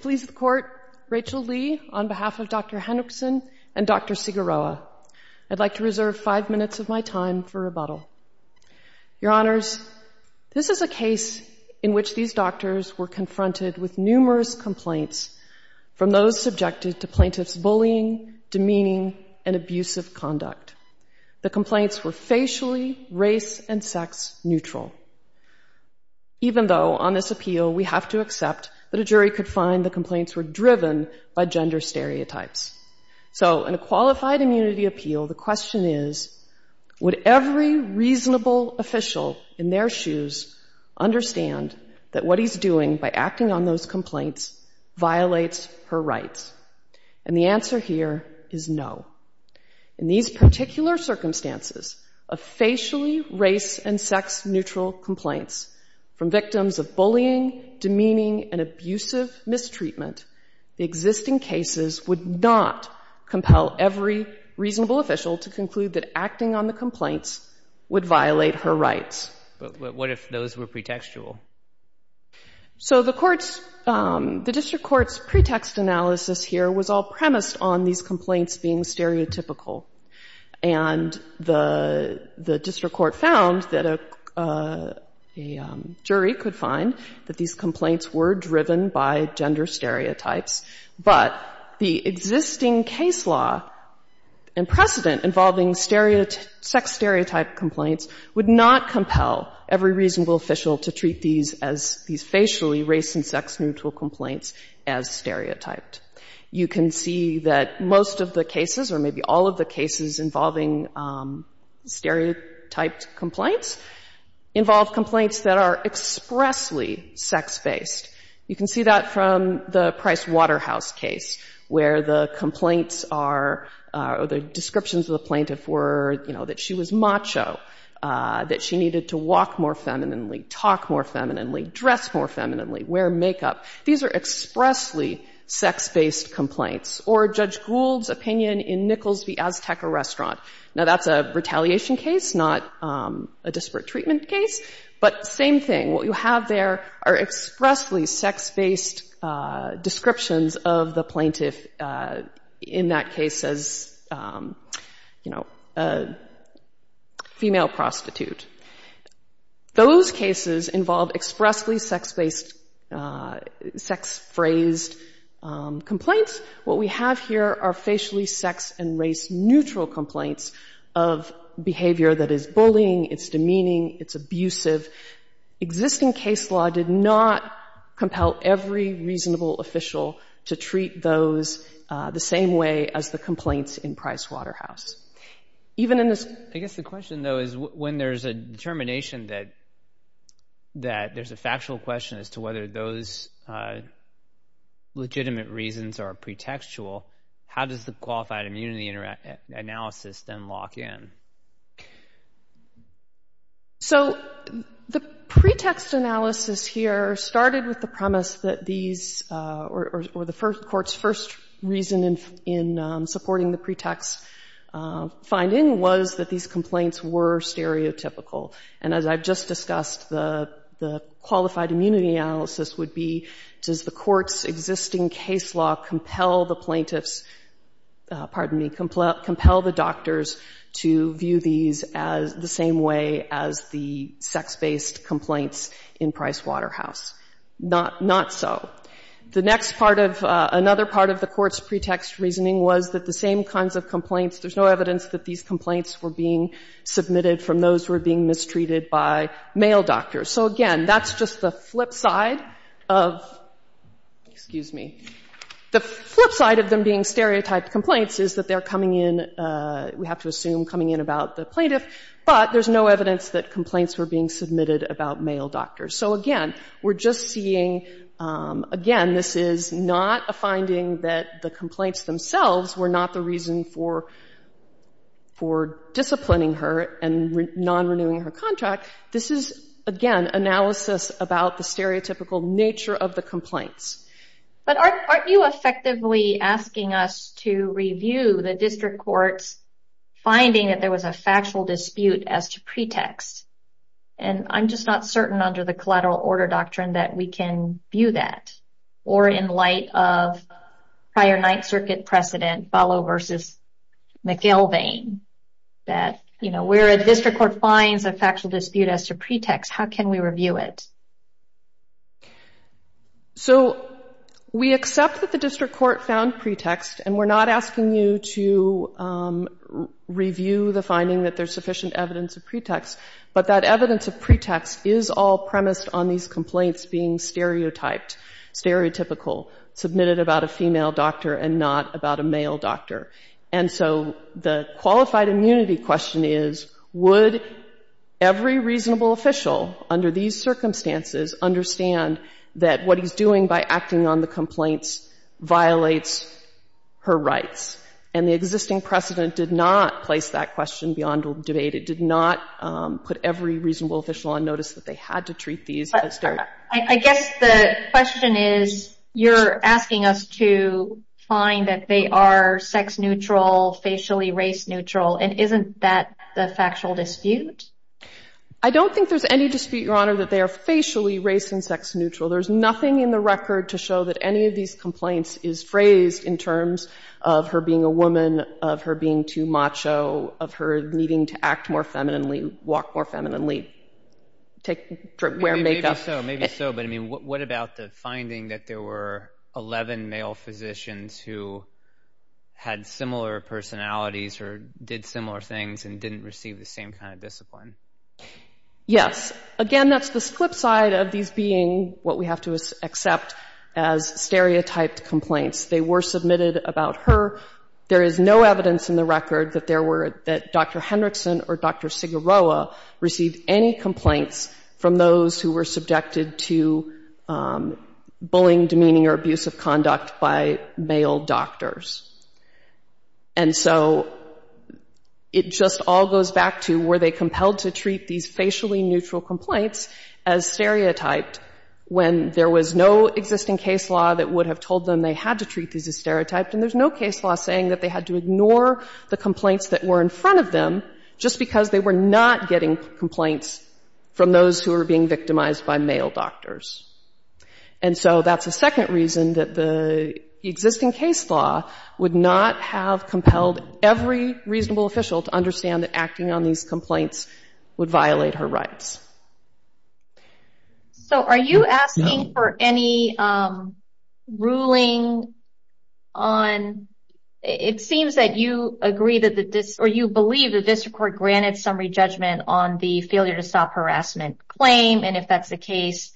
Please the court, Rachel Lee on behalf of Dr. Henrikson and Dr. Siguroa. I'd like to reserve five minutes of my time for rebuttal. Your Honors, this is a case in which these doctors were confronted with numerous complaints from those subjected to plaintiffs' bullying, demeaning, and abusive conduct. The complaints were facially, race, and sex neutral. Even though on this appeal we have to accept that a jury could find the complaints were driven by gender stereotypes. So in a qualified immunity appeal, the question is, would every reasonable official in their shoes understand that what he's doing by acting on those complaints violates her rights? And the answer here is no. In these particular circumstances of facially, race, and sex neutral complaints from victims of bullying, demeaning, and abusive mistreatment, the existing cases would not compel every reasonable official to conclude that acting on the complaints would violate her rights. But what if those were pretextual? So the court's, the district court's pretext analysis here was all premised on these complaints being stereotypical. And the, the district court found that a, a jury could find that these complaints were driven by gender stereotypes. But the existing case law and precedent involving stereotype, sex stereotype complaints would not compel every reasonable official to treat these as, these facially, race, and sex neutral complaints as stereotyped. You can see that most of the cases, or maybe all of the cases involving stereotyped complaints involve complaints that are expressly sex-based. You can see that from the Price Waterhouse case, where the complaints are, or the descriptions of the plaintiff were, you know, that she was macho, that she needed to walk more femininely, talk more femininely, dress more femininely, wear makeup. These are expressly sex-based complaints. Or Judge Gould's opinion in Nichols v. Azteca Restaurant. Now that's a retaliation case, not a disparate treatment case. But same thing. What you have there are expressly sex-based descriptions of the plaintiff in that case as, you know, a female prostitute. Those cases involve expressly sex-based complaints. Sex-phrased complaints. What we have here are facially, sex, and race neutral complaints of behavior that is bullying, it's demeaning, it's abusive. Existing case law did not compel every reasonable official to treat those the same way as the complaints in Price Waterhouse. Even in this- I guess the question, though, is when there's a determination that there's a factual question as to whether those legitimate reasons are pretextual, how does the qualified immunity analysis then lock in? So the pretext analysis here started with the premise that these- or the court's first reason in supporting the pretext finding was that these complaints were stereotypical. And as I've just discussed, the qualified immunity analysis would be, does the court's existing case law compel the plaintiffs- pardon me, compel the doctors to view these as the same way as the sex-based complaints in Price Waterhouse? Not so. The next part of- another part of the court's pretext reasoning was that the same kinds of complaints- there's no evidence that these complaints were being submitted from those who were being mistreated by male doctors. So again, that's just the flip side of- excuse me- the flip side of them being stereotyped complaints is that they're coming in- we have to assume coming in about the plaintiff, but there's no evidence that complaints were being submitted about male doctors. So again, we're just seeing- again, this is not a finding that the complaints themselves were not the reason for disciplining her and non-renewing her contract. This is, again, analysis about the stereotypical nature of the complaints. But aren't you effectively asking us to review the district court's finding that there was a factual dispute as to pretext? And I'm just not certain under the collateral order doctrine that we can view that. Or in light of prior Ninth Circuit precedent, Ballot v. McElveen, that where a district court finds a factual dispute as to pretext, how can we review it? So we accept that the district court found pretext, and we're not asking you to review the finding that there's sufficient evidence of pretext. But that evidence of pretext is all premised on these complaints being stereotyped, stereotypical, submitted about a female doctor and not about a male doctor. And so the qualified immunity question is, would every reasonable official under these circumstances understand that what he's doing by acting on the complaints violates her rights? And the existing precedent did not place that question beyond debate. It did not put every reasonable official under the pretext that he had to treat these as their... I guess the question is, you're asking us to find that they are sex-neutral, facially race-neutral. And isn't that the factual dispute? I don't think there's any dispute, Your Honor, that they are facially race and sex-neutral. There's nothing in the record to show that any of these complaints is phrased in terms of her being a woman, of her being too macho, of her needing to act more femininely, walk more femininely, take...wear makeup. Maybe so, maybe so. But I mean, what about the finding that there were 11 male physicians who had similar personalities or did similar things and didn't receive the same kind of discipline? Yes. Again, that's the flip side of these being what we have to accept as stereotyped complaints. They were submitted about her. There is no evidence in the record that there were...received any complaints from those who were subjected to bullying, demeaning or abusive conduct by male doctors. And so it just all goes back to, were they compelled to treat these facially neutral complaints as stereotyped when there was no existing case law that would have told them they had to treat these as stereotyped? And there's no case law saying that they had to stop getting complaints from those who were being victimized by male doctors. And so that's the second reason that the existing case law would not have compelled every reasonable official to understand that acting on these complaints would violate her rights. So are you asking for any ruling on...it seems that you agree that the...or you believe the ruling on the failure to stop harassment claim, and if that's the case,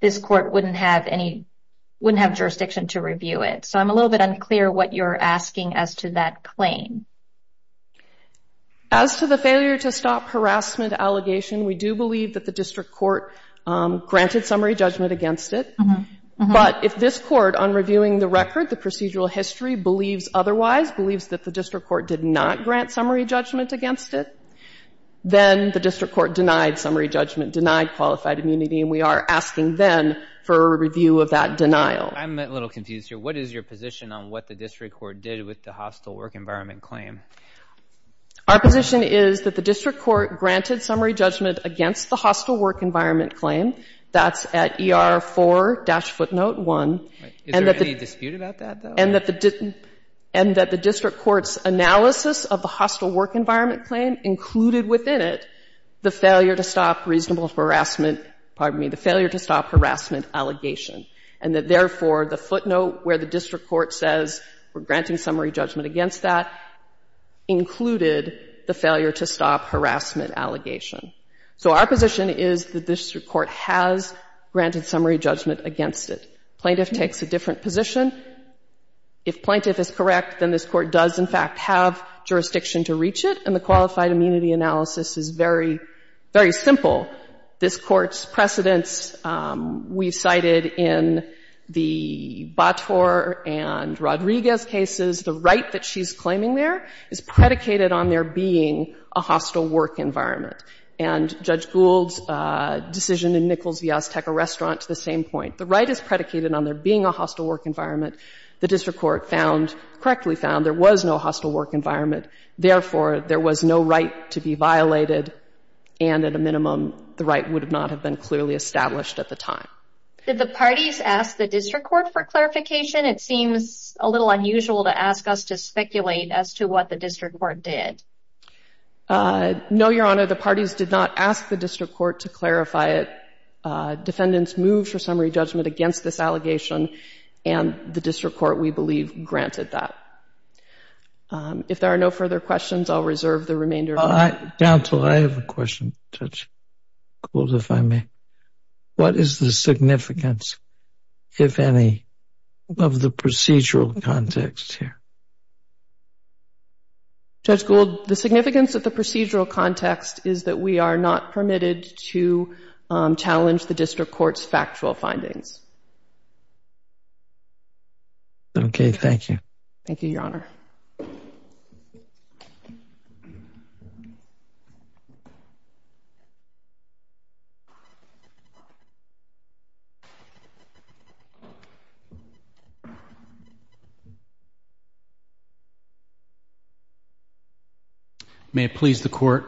this court wouldn't have any...wouldn't have jurisdiction to review it. So I'm a little bit unclear what you're asking as to that claim. As to the failure to stop harassment allegation, we do believe that the district court granted summary judgment against it. But if this court, on reviewing the record, the procedural history, believes otherwise, believes that the district court did not grant summary judgment against it, then the district court denied summary judgment, denied qualified immunity, and we are asking then for a review of that denial. I'm a little confused here. What is your position on what the district court did with the hostile work environment claim? Our position is that the district court granted summary judgment against the hostile work environment claim. That's at ER 4-footnote 1. Is there any dispute about that, though? And that the district court's analysis of the hostile work environment claim included within it the failure to stop reasonable harassment...pardon me, the failure to stop harassment allegation. And that, therefore, the footnote where the district court says we're granting summary judgment against that included the failure to stop harassment allegation. So our position is the district court has granted summary judgment against it. Plaintiff takes a different position. If plaintiff is correct, then this court does, in fact, have jurisdiction to reach it, and the qualified immunity analysis is very, very simple. This Court's precedents we cited in the Bator and Rodriguez cases, the right that she's claiming there is predicated on there being a hostile work environment. And Judge Gould's decision in Nichols v. Azteca Restaurant to the same point. The right is predicated on there being a hostile work environment. The district court found, correctly found, there was no hostile work environment. Therefore, there was no right to be violated, and at a minimum, the right would not have been clearly established at the time. Did the parties ask the district court for clarification? It seems a little unusual to ask us to speculate as to what the district court did. No, Your Honor. The parties did not ask the district court to clarify it. Defendants moved for summary judgment against this allegation, and the district court, we believe, granted that. If there are no further questions, I'll reserve the remainder of my time. Counsel, I have a question, Judge Gould, if I may. What is the significance, if any, of the procedural context here? Judge Gould, the significance of the procedural context is that we are not permitted to challenge the district court's factual findings. Okay. Thank you. Thank you, Your Honor. May it please the Court,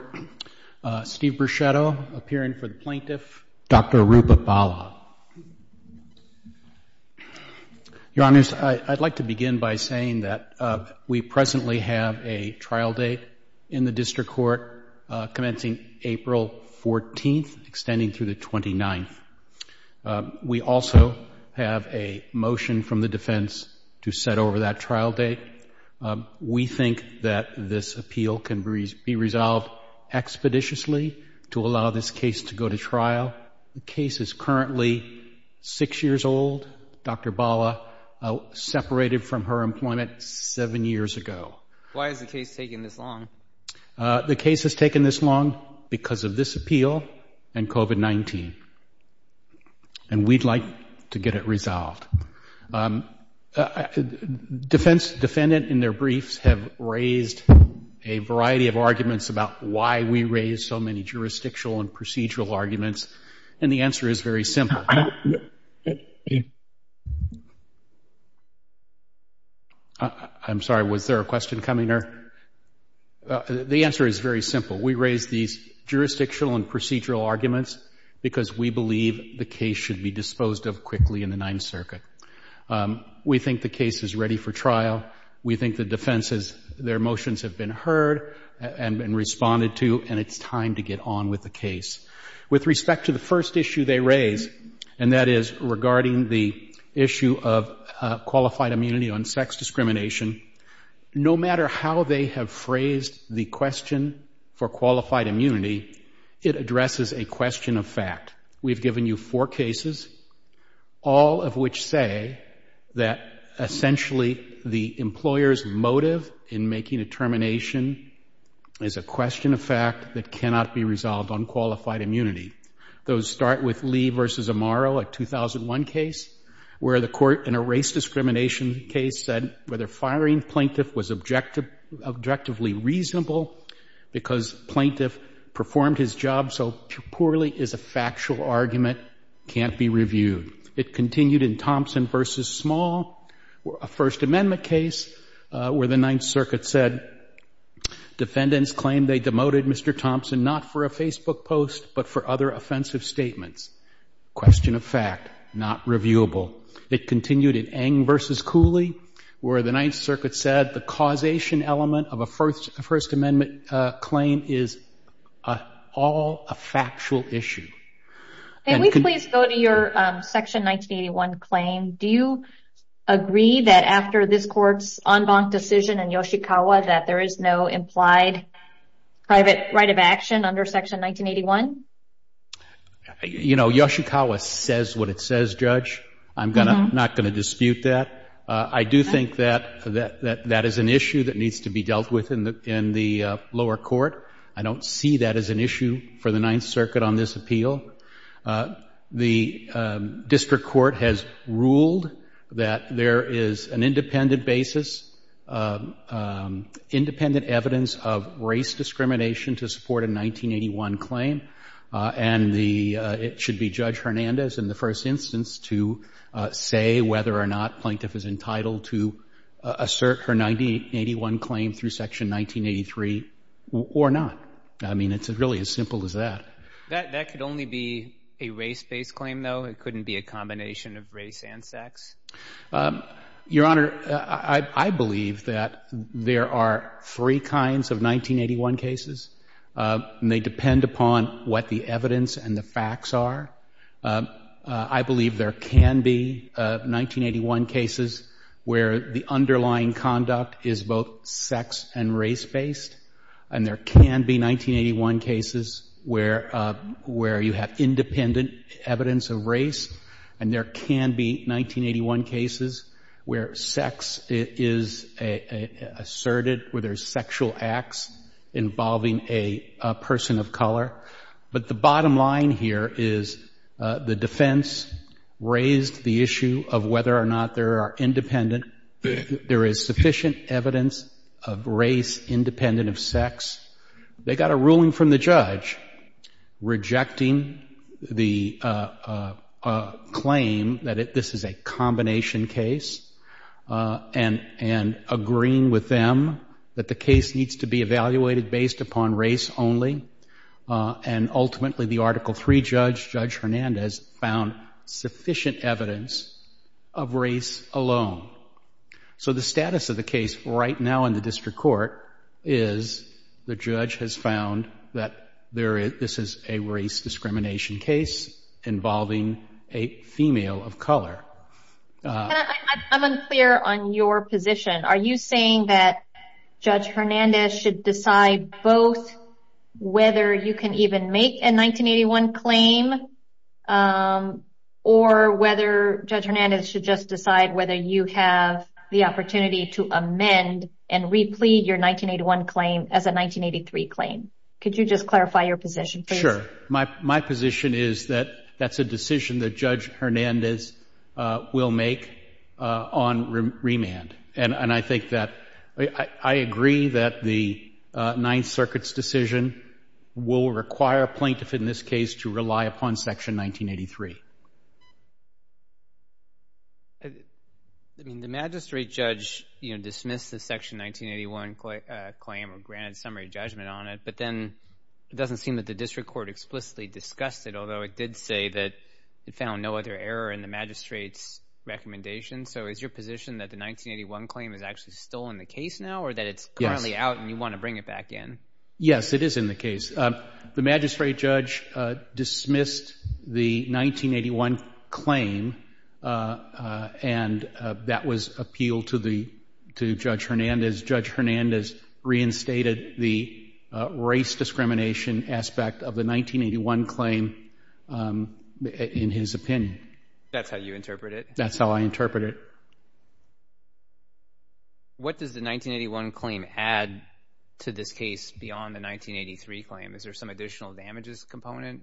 Steve Bruschetto, appearing for the plaintiff. Dr. Aruba-Balla. Your Honors, I'd like to begin by saying that we presently have a trial date in the district court commencing April 14th, extending through the 29th. We also have a motion from the defense to set over that trial date. We think that this appeal can be resolved expeditiously to allow this case to go to trial. The case is currently six years old. Dr. Balla separated from her employment seven years ago. Why has the case taken this long? The case has taken this long because of this appeal and COVID-19, and we'd like to get it resolved. Defendants in their briefs have raised a variety of arguments about why we raised so many jurisdictional and procedural arguments, and the answer is very simple. I'm sorry. Was there a question coming? The answer is very simple. We raised these jurisdictional and procedural arguments because we believe the case should be disposed of quickly in the Ninth Circuit. We think the case is ready for trial. We think the defense's motions have been heard and responded to, and it's time to get on with the case. With respect to the first issue they raised, and that is regarding the issue of qualified immunity on sex discrimination, no matter how they have phrased the question for qualified immunity, it addresses a question of fact. We've given you four cases, all of which say that essentially the employer's motive in making a termination is a question of fact that cannot be resolved on qualified immunity. Those start with Lee v. Amaro, a 2001 case, where the court in a race discrimination case said whether firing plaintiff was objectively reasonable because plaintiff performed his job so poorly is a factual argument, can't be reviewed. It continued in Thompson v. Small, a First Amendment case, where the Ninth Circuit said defendants claimed they demoted Mr. Thompson not for a Facebook post but for other offensive statements. Question of fact, not reviewable. It continued in Eng v. Cooley, where the Ninth Circuit said the causation element of a First Amendment claim is all a factual issue. Can we please go to your Section 1981 claim? Do you agree that after this court's en banc decision in Yoshikawa that there is no implied private right of action under Section 1981? You know, Yoshikawa says what it says, Judge. I'm not going to dispute that. I do think that is an issue that needs to be dealt with in the lower court. I don't see that as an issue for the Ninth Circuit on this appeal. The district court has ruled that there is an independent basis, independent evidence of race discrimination to support a 1981 claim, and it should be Judge Hernandez in the first instance to say whether or not plaintiff is entitled to assert her 1981 claim through Section 1983 or not. I mean, it's really as simple as that. That could only be a race-based claim, though. It couldn't be a combination of race and sex. Your Honor, I believe that there are three kinds of 1981 cases, and they depend upon what the evidence and the facts are. I believe there can be 1981 cases where the underlying conduct is both sex and race-based, and there can be 1981 cases where you have independent evidence of race, and there can be 1981 cases where sex is asserted, where there's sexual acts involving a person of color. But the bottom line here is the defense raised the issue of whether or not there are independent, there is sufficient evidence of race independent of sex. They got a ruling from the judge rejecting the claim that this is a combination case and agreeing with them that the case needs to be evaluated based upon race only. And ultimately, the Article III judge, Judge Hernandez, found sufficient evidence of race alone. So the status of the case right now in the district court is the judge has found that this is a race discrimination case involving a female of color. I'm unclear on your position. Are you saying that Judge Hernandez should decide both whether you can even make a 1981 claim or whether Judge Hernandez should just decide whether you have the opportunity to amend and replete your 1981 claim as a 1983 claim? Could you just clarify your position? Sure. My position is that that's a decision that Judge Hernandez will make on remand. And I think that I agree that the Ninth Circuit's decision will require a plaintiff, in this case, to rely upon Section 1983. I mean, the magistrate judge dismissed the Section 1981 claim or granted summary judgment on it, but then it doesn't seem that the district court explicitly discussed it, although it did say that it found no other error in the magistrate's recommendation. So is your position that the 1981 claim is actually still in the case now or that it's currently out and you want to bring it back in? Yes, it is in the case. The magistrate judge dismissed the 1981 claim and that was appealed to Judge Hernandez. Judge Hernandez reinstated the race discrimination aspect of the 1981 claim in his opinion. That's how you interpret it? That's how I interpret it. What does the 1981 claim add to this case beyond the 1983 claim? Is there some additional damages component?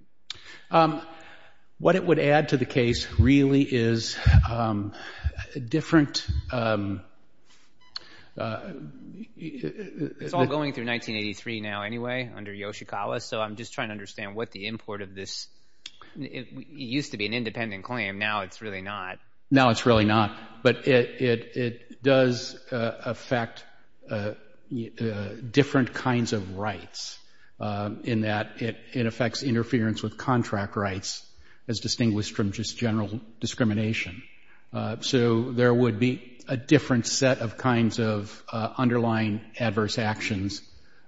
What it would add to the case really is a different... It's all going through 1983 now anyway under Yoshikawa, so I'm just trying to understand what the import of this... It used to be an independent claim. Now it's really not. Now it's really not, but it does affect different kinds of rights in that it affects interference with contract rights as distinguished from just general discrimination. So there would be a different set of kinds of underlying adverse actions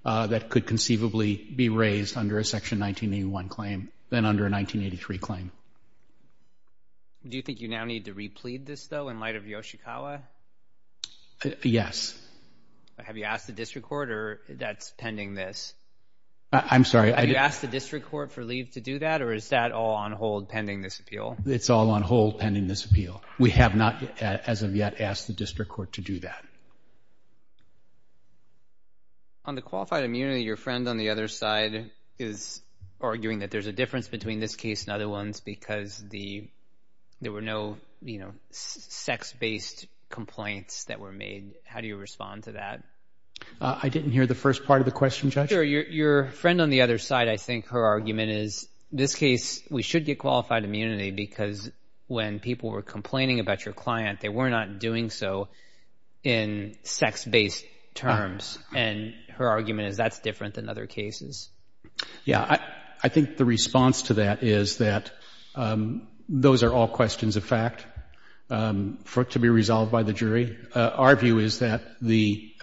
that could conceivably be raised under a Section 1981 claim than under 1983 claim. Do you think you now need to replead this though in light of Yoshikawa? Yes. Have you asked the district court or that's pending this? I'm sorry. Have you asked the district court for leave to do that or is that all on hold pending this appeal? It's all on hold pending this appeal. We have not as of yet asked the district court to do that. On the qualified because there were no sex-based complaints that were made. How do you respond to that? I didn't hear the first part of the question, Judge. Your friend on the other side, I think her argument is this case, we should get qualified immunity because when people were complaining about your client, they were not doing so in sex-based terms. And her argument is that's in other cases. Yeah. I think the response to that is that those are all questions of fact to be resolved by the jury. Our view is that the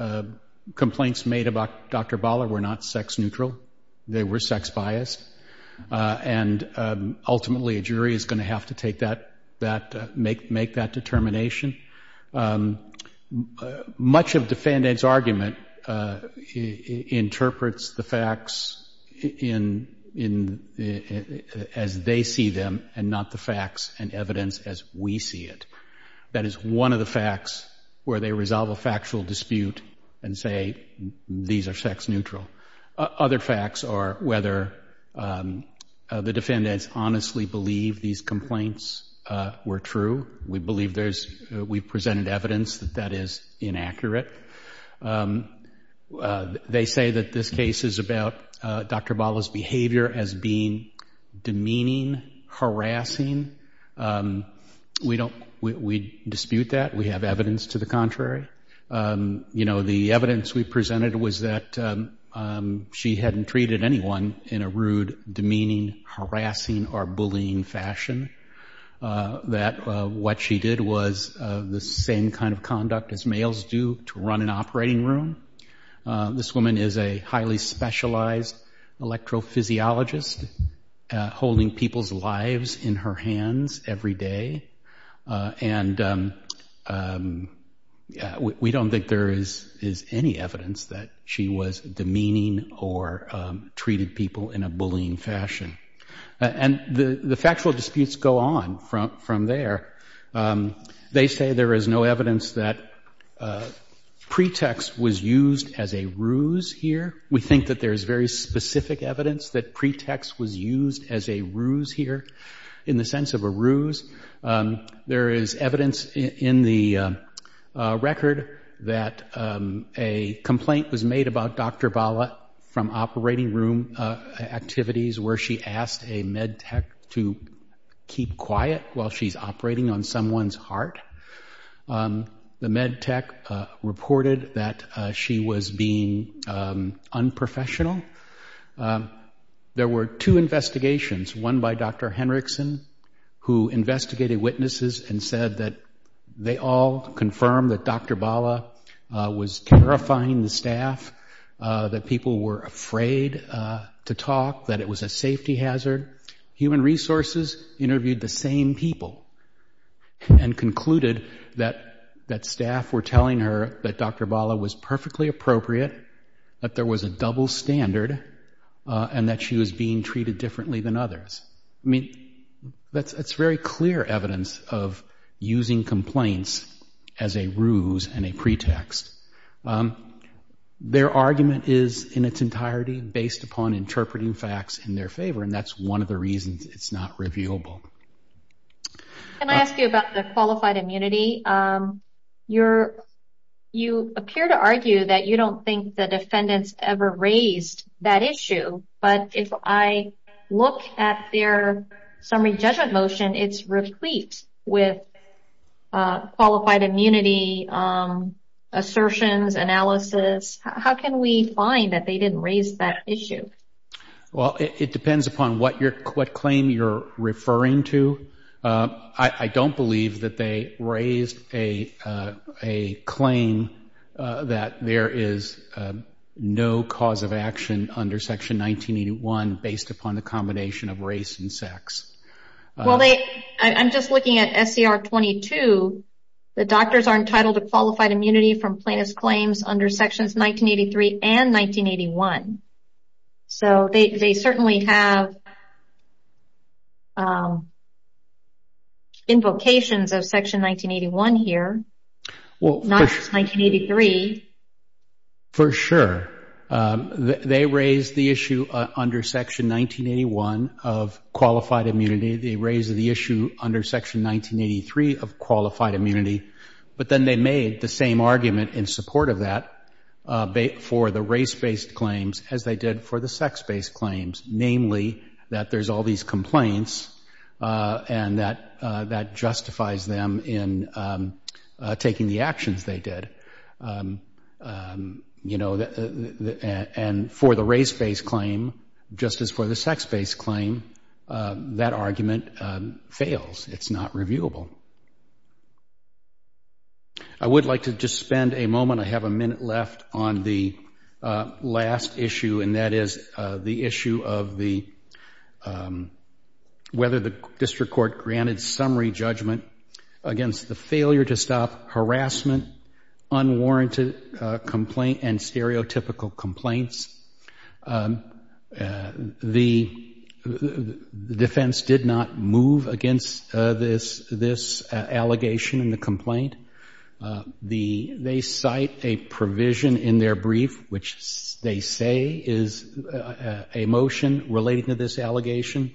complaints made about Dr. Baller were not sex-neutral. They were sex-biased. And ultimately, a jury is going to have to make that determination. Much of defendant's argument interprets the facts as they see them and not the facts and evidence as we see it. That is one of the facts where they resolve a factual dispute and say, these are sex-neutral. Other facts are whether the defendants honestly believe these complaints were true. We we've presented evidence that that is inaccurate. They say that this case is about Dr. Baller's behavior as being demeaning, harassing. We dispute that. We have evidence to the contrary. The evidence we presented was that she hadn't treated anyone in a rude, demeaning, harassing, or bullying fashion. That what she did was the same kind of conduct as males do to run an operating room. This woman is a highly specialized electrophysiologist, holding people's lives in her hands every day. And we don't think there is any evidence that she was demeaning or treated people in a bullying fashion. And the factual disputes go on from there. They say there is no evidence that pretext was used as a ruse here. We think that there is very specific evidence that pretext was used as a ruse here. In the sense of a ruse, there is evidence in the record that a complaint was made about Dr. Baller from operating room activities where she asked a med tech to keep quiet while she's operating on someone's heart. The med tech reported that she was being unprofessional. There were two investigations, one by Dr. Henriksen, who investigated witnesses and said that they all confirmed that Dr. Baller was terrifying the staff, that people were afraid to talk, that it was a safety hazard. Human Resources interviewed the same people and concluded that staff were telling her that Dr. Baller was perfectly appropriate, that there was a double standard, and that she was being treated differently than others. That's very clear evidence of using complaints as a ruse and a pretext. Their argument is, in its entirety, based upon interpreting facts in their favor, and that's one of the reasons it's not reviewable. Can I ask you about the qualified immunity? You appear to argue that you don't think the defendants ever raised that issue, but if I look at their summary judgment motion, it's replete with qualified immunity assertions, analysis. How can we find that they didn't raise that issue? Well, it depends upon what claim you're referring to. I don't believe that they raised a claim that there is no cause of action under Section 1981 based upon the combination of race and sex. Well, I'm just looking at SCR 22. The doctors are entitled to qualified immunity from plaintiff's under Sections 1983 and 1981, so they certainly have invocations of Section 1981 here, not 1983. For sure. They raised the issue under Section 1981 of qualified immunity. They raised the issue under Section 1983 of qualified immunity, but then they made the same argument in support of that for the race-based claims as they did for the sex-based claims, namely that there's all these complaints and that justifies them in taking the actions they did. And for the race-based claim, just as for the sex-based claim, that argument fails. It's not reviewable. I would like to just spend a moment. I have a minute left on the last issue, and that is the issue of whether the district court granted summary judgment against the failure to stop the defense. The defense did not move against this allegation in the complaint. They cite a provision in their brief, which they say is a motion related to this allegation,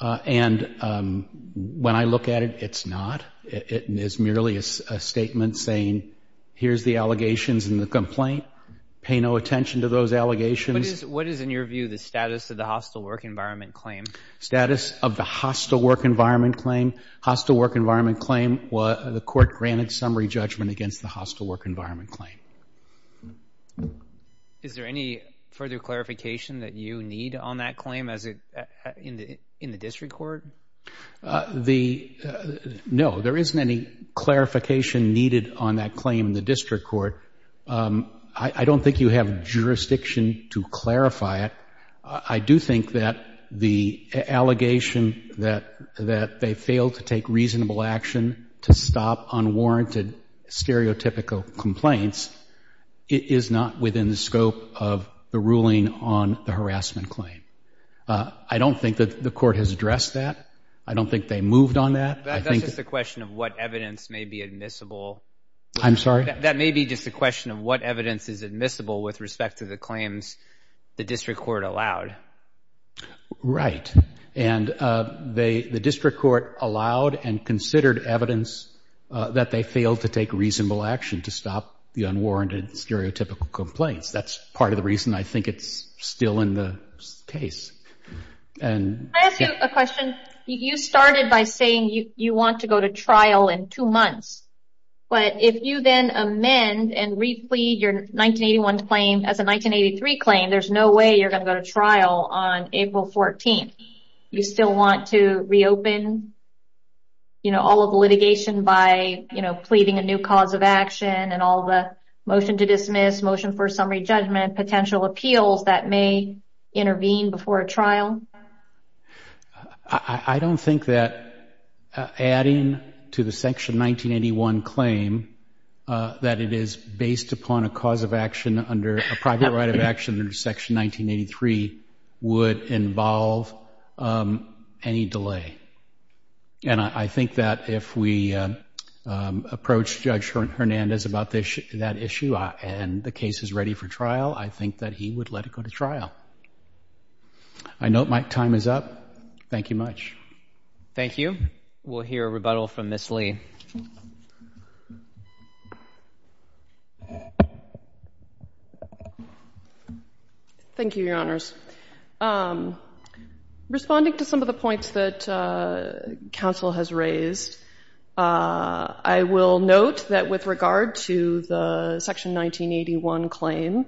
and when I look at it, it's not. It is merely a statement saying, here's the allegations in the complaint. Pay no attention to those allegations. What is, in your view, the status of the hostile work environment claim? Status of the hostile work environment claim. Hostile work environment claim, the court granted summary judgment against the hostile work environment claim. Is there any further clarification that you need on that claim in the district court? No, there isn't any clarification needed on that claim in the district court. I don't think you have jurisdiction to clarify it. I do think that the allegation that they failed to take reasonable action to stop unwarranted stereotypical complaints is not within the scope of the ruling on the harassment claim. I don't think that the court has addressed that. I don't think they moved on that. That's just a question of what evidence may be admissible. I'm sorry? That may be just a question of what evidence is admissible with respect to the claims the district court allowed. Right, and the district court allowed and considered evidence that they failed to take reasonable action to stop the unwarranted stereotypical complaints. That's part of the reason I think it's still in the case. Can I ask you a question? You started by saying you want to go to trial in two months, but if you then amend and replete your 1981 claim as a 1983 claim, there's no way you're going to go to trial on April 14th. You still want to reopen all of the litigation by pleading a new cause of action and all the motion to dismiss, motion for summary judgment, potential appeals that may intervene before a trial? I don't think that adding to the Section 1981 claim that it is based upon a cause of action under a private right of action under Section 1983 would involve any delay. And I think that if we approach Judge Hernandez about that issue and the case is ready for trial, I think that he would let it go to trial. I note my time is up. Thank you much. Thank you. We'll hear a rebuttal from Ms. Lee. Thank you, Your Honors. Responding to some of the points that counsel has raised, I will note that with regard to the Section 1981 claim,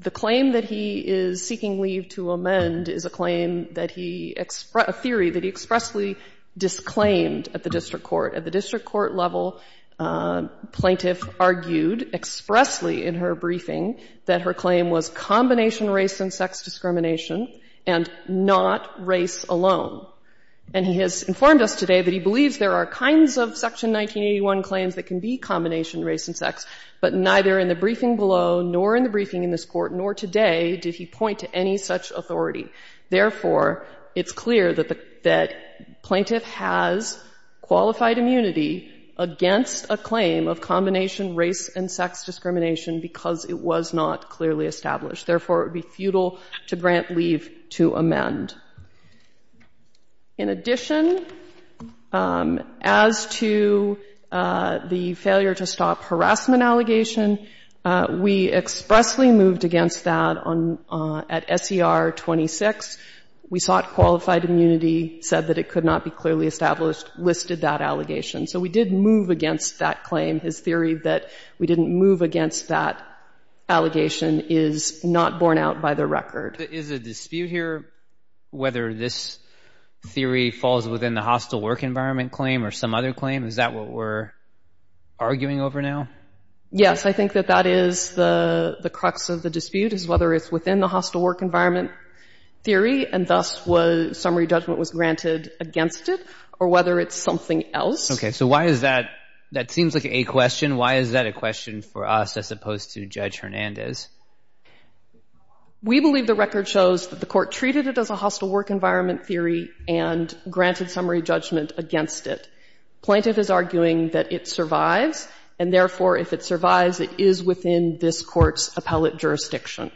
the claim that he is seeking leave to amend is a claim that he, a theory that he expressly disclaimed at the district court. At the district court level, plaintiff argued expressly in her briefing that her claim was combination race and sex discrimination and not race alone. And he has informed us today that he believes there are kinds of Section 1981 claims that can be combination race and sex, but neither in the briefing below nor in the briefing in this court nor today did he point to any such authority. Therefore, it's clear that the — that plaintiff has qualified immunity against a claim of combination race and sex discrimination because it was not clearly established. Therefore, it would be futile to grant leave to amend. In addition, as to the failure to stop harassment allegation, we expressly moved against that on — at SER 26. We sought qualified immunity, said that it could not be clearly established, listed that allegation. So we did move against that claim. His theory that we didn't move against that allegation is not borne out by the record. Is a dispute here whether this theory falls within the hostile work environment claim or some other claim? Is that what we're arguing over now? Yes. I think that that is the crux of the dispute is whether it's within the hostile work environment theory and thus was — summary judgment was granted against it or whether it's something else. Okay. So why is that — that seems like a question. Why is that a question for us as opposed to Judge Hernandez? We believe the record shows that the court treated it as a hostile work environment theory and granted summary judgment against it. Plaintiff is arguing that it survives and, therefore, if it survives, it is within this court's appellate jurisdiction.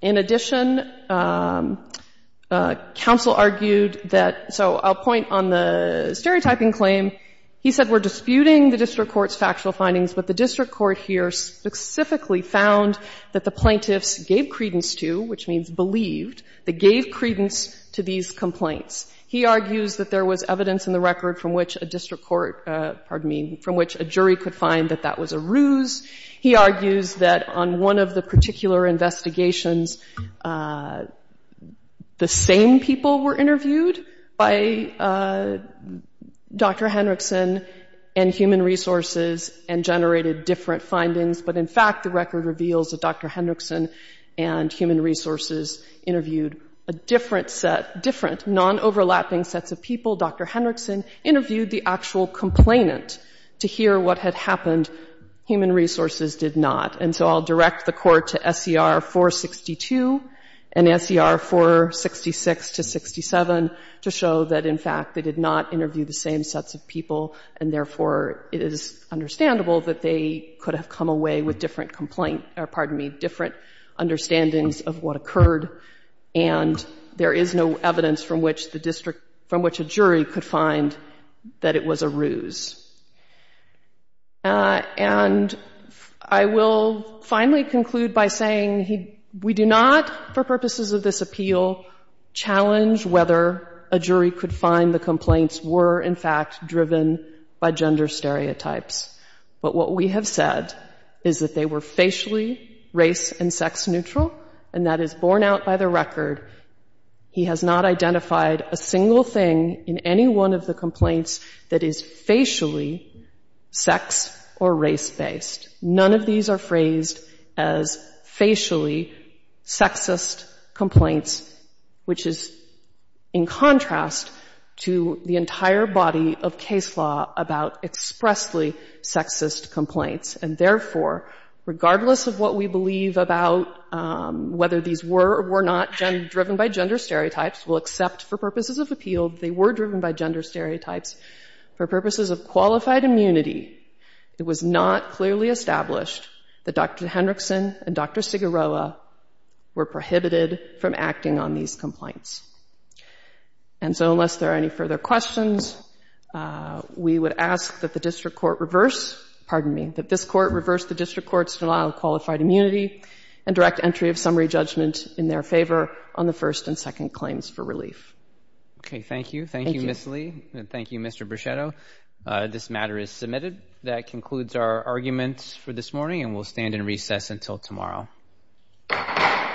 In addition, counsel argued that — so I'll point on the stereotyping claim. He said we're disputing the district court's factual findings, but the district court here specifically found that the plaintiffs gave credence to, which means believed, they gave credence to these complaints. He argues that there was evidence in the record from which a district court — pardon me — from which a jury could find that that was a ruse. He argues that on one of the particular investigations, the same people were interviewed by Dr. Hendrickson and Human Resources and generated different findings. But, in fact, the record reveals that Dr. Hendrickson and Human Resources interviewed a different set — different, non-overlapping sets of people. Dr. Hendrickson interviewed the actual complainant to hear what had happened. Human Resources did not. And so I'll direct the Court to S.E.R. 462 and S.E.R. 466 to 67 to show that, in fact, they did not interview the same sets of people and, therefore, it is understandable that they could have come away with different complaint — pardon me — different understandings of what occurred. And there is no evidence from which the district — from which a jury could find that it was a ruse. And I will finally conclude by saying he — we do not, for purposes of this appeal, challenge whether a jury could find the complaints were, in fact, driven by gender stereotypes. But what we have said is that they were facially race- and sex-neutral, and that is borne out by the record. He has not identified a single thing in any one of the complaints that is facially racial or racially sex- or race-based. None of these are phrased as facially sexist complaints, which is in contrast to the entire body of case law about expressly sexist complaints. And, therefore, regardless of what we believe about whether these were or were not driven by gender stereotypes, we'll accept for purposes of appeal they were driven by gender stereotypes. For purposes of qualified immunity, it was not clearly established that Dr. Hendrickson and Dr. Siguroa were prohibited from acting on these complaints. And so, unless there are any further questions, we would ask that the district court reverse — pardon me — that this court reverse the district court's denial of qualified immunity and direct entry of summary judgment in their favor on the first and second claims for relief. Okay, thank you. Thank you, Ms. Lee, and thank you, Mr. Brichetto. This matter is submitted. That concludes our arguments for this morning, and we'll stand in recess until tomorrow.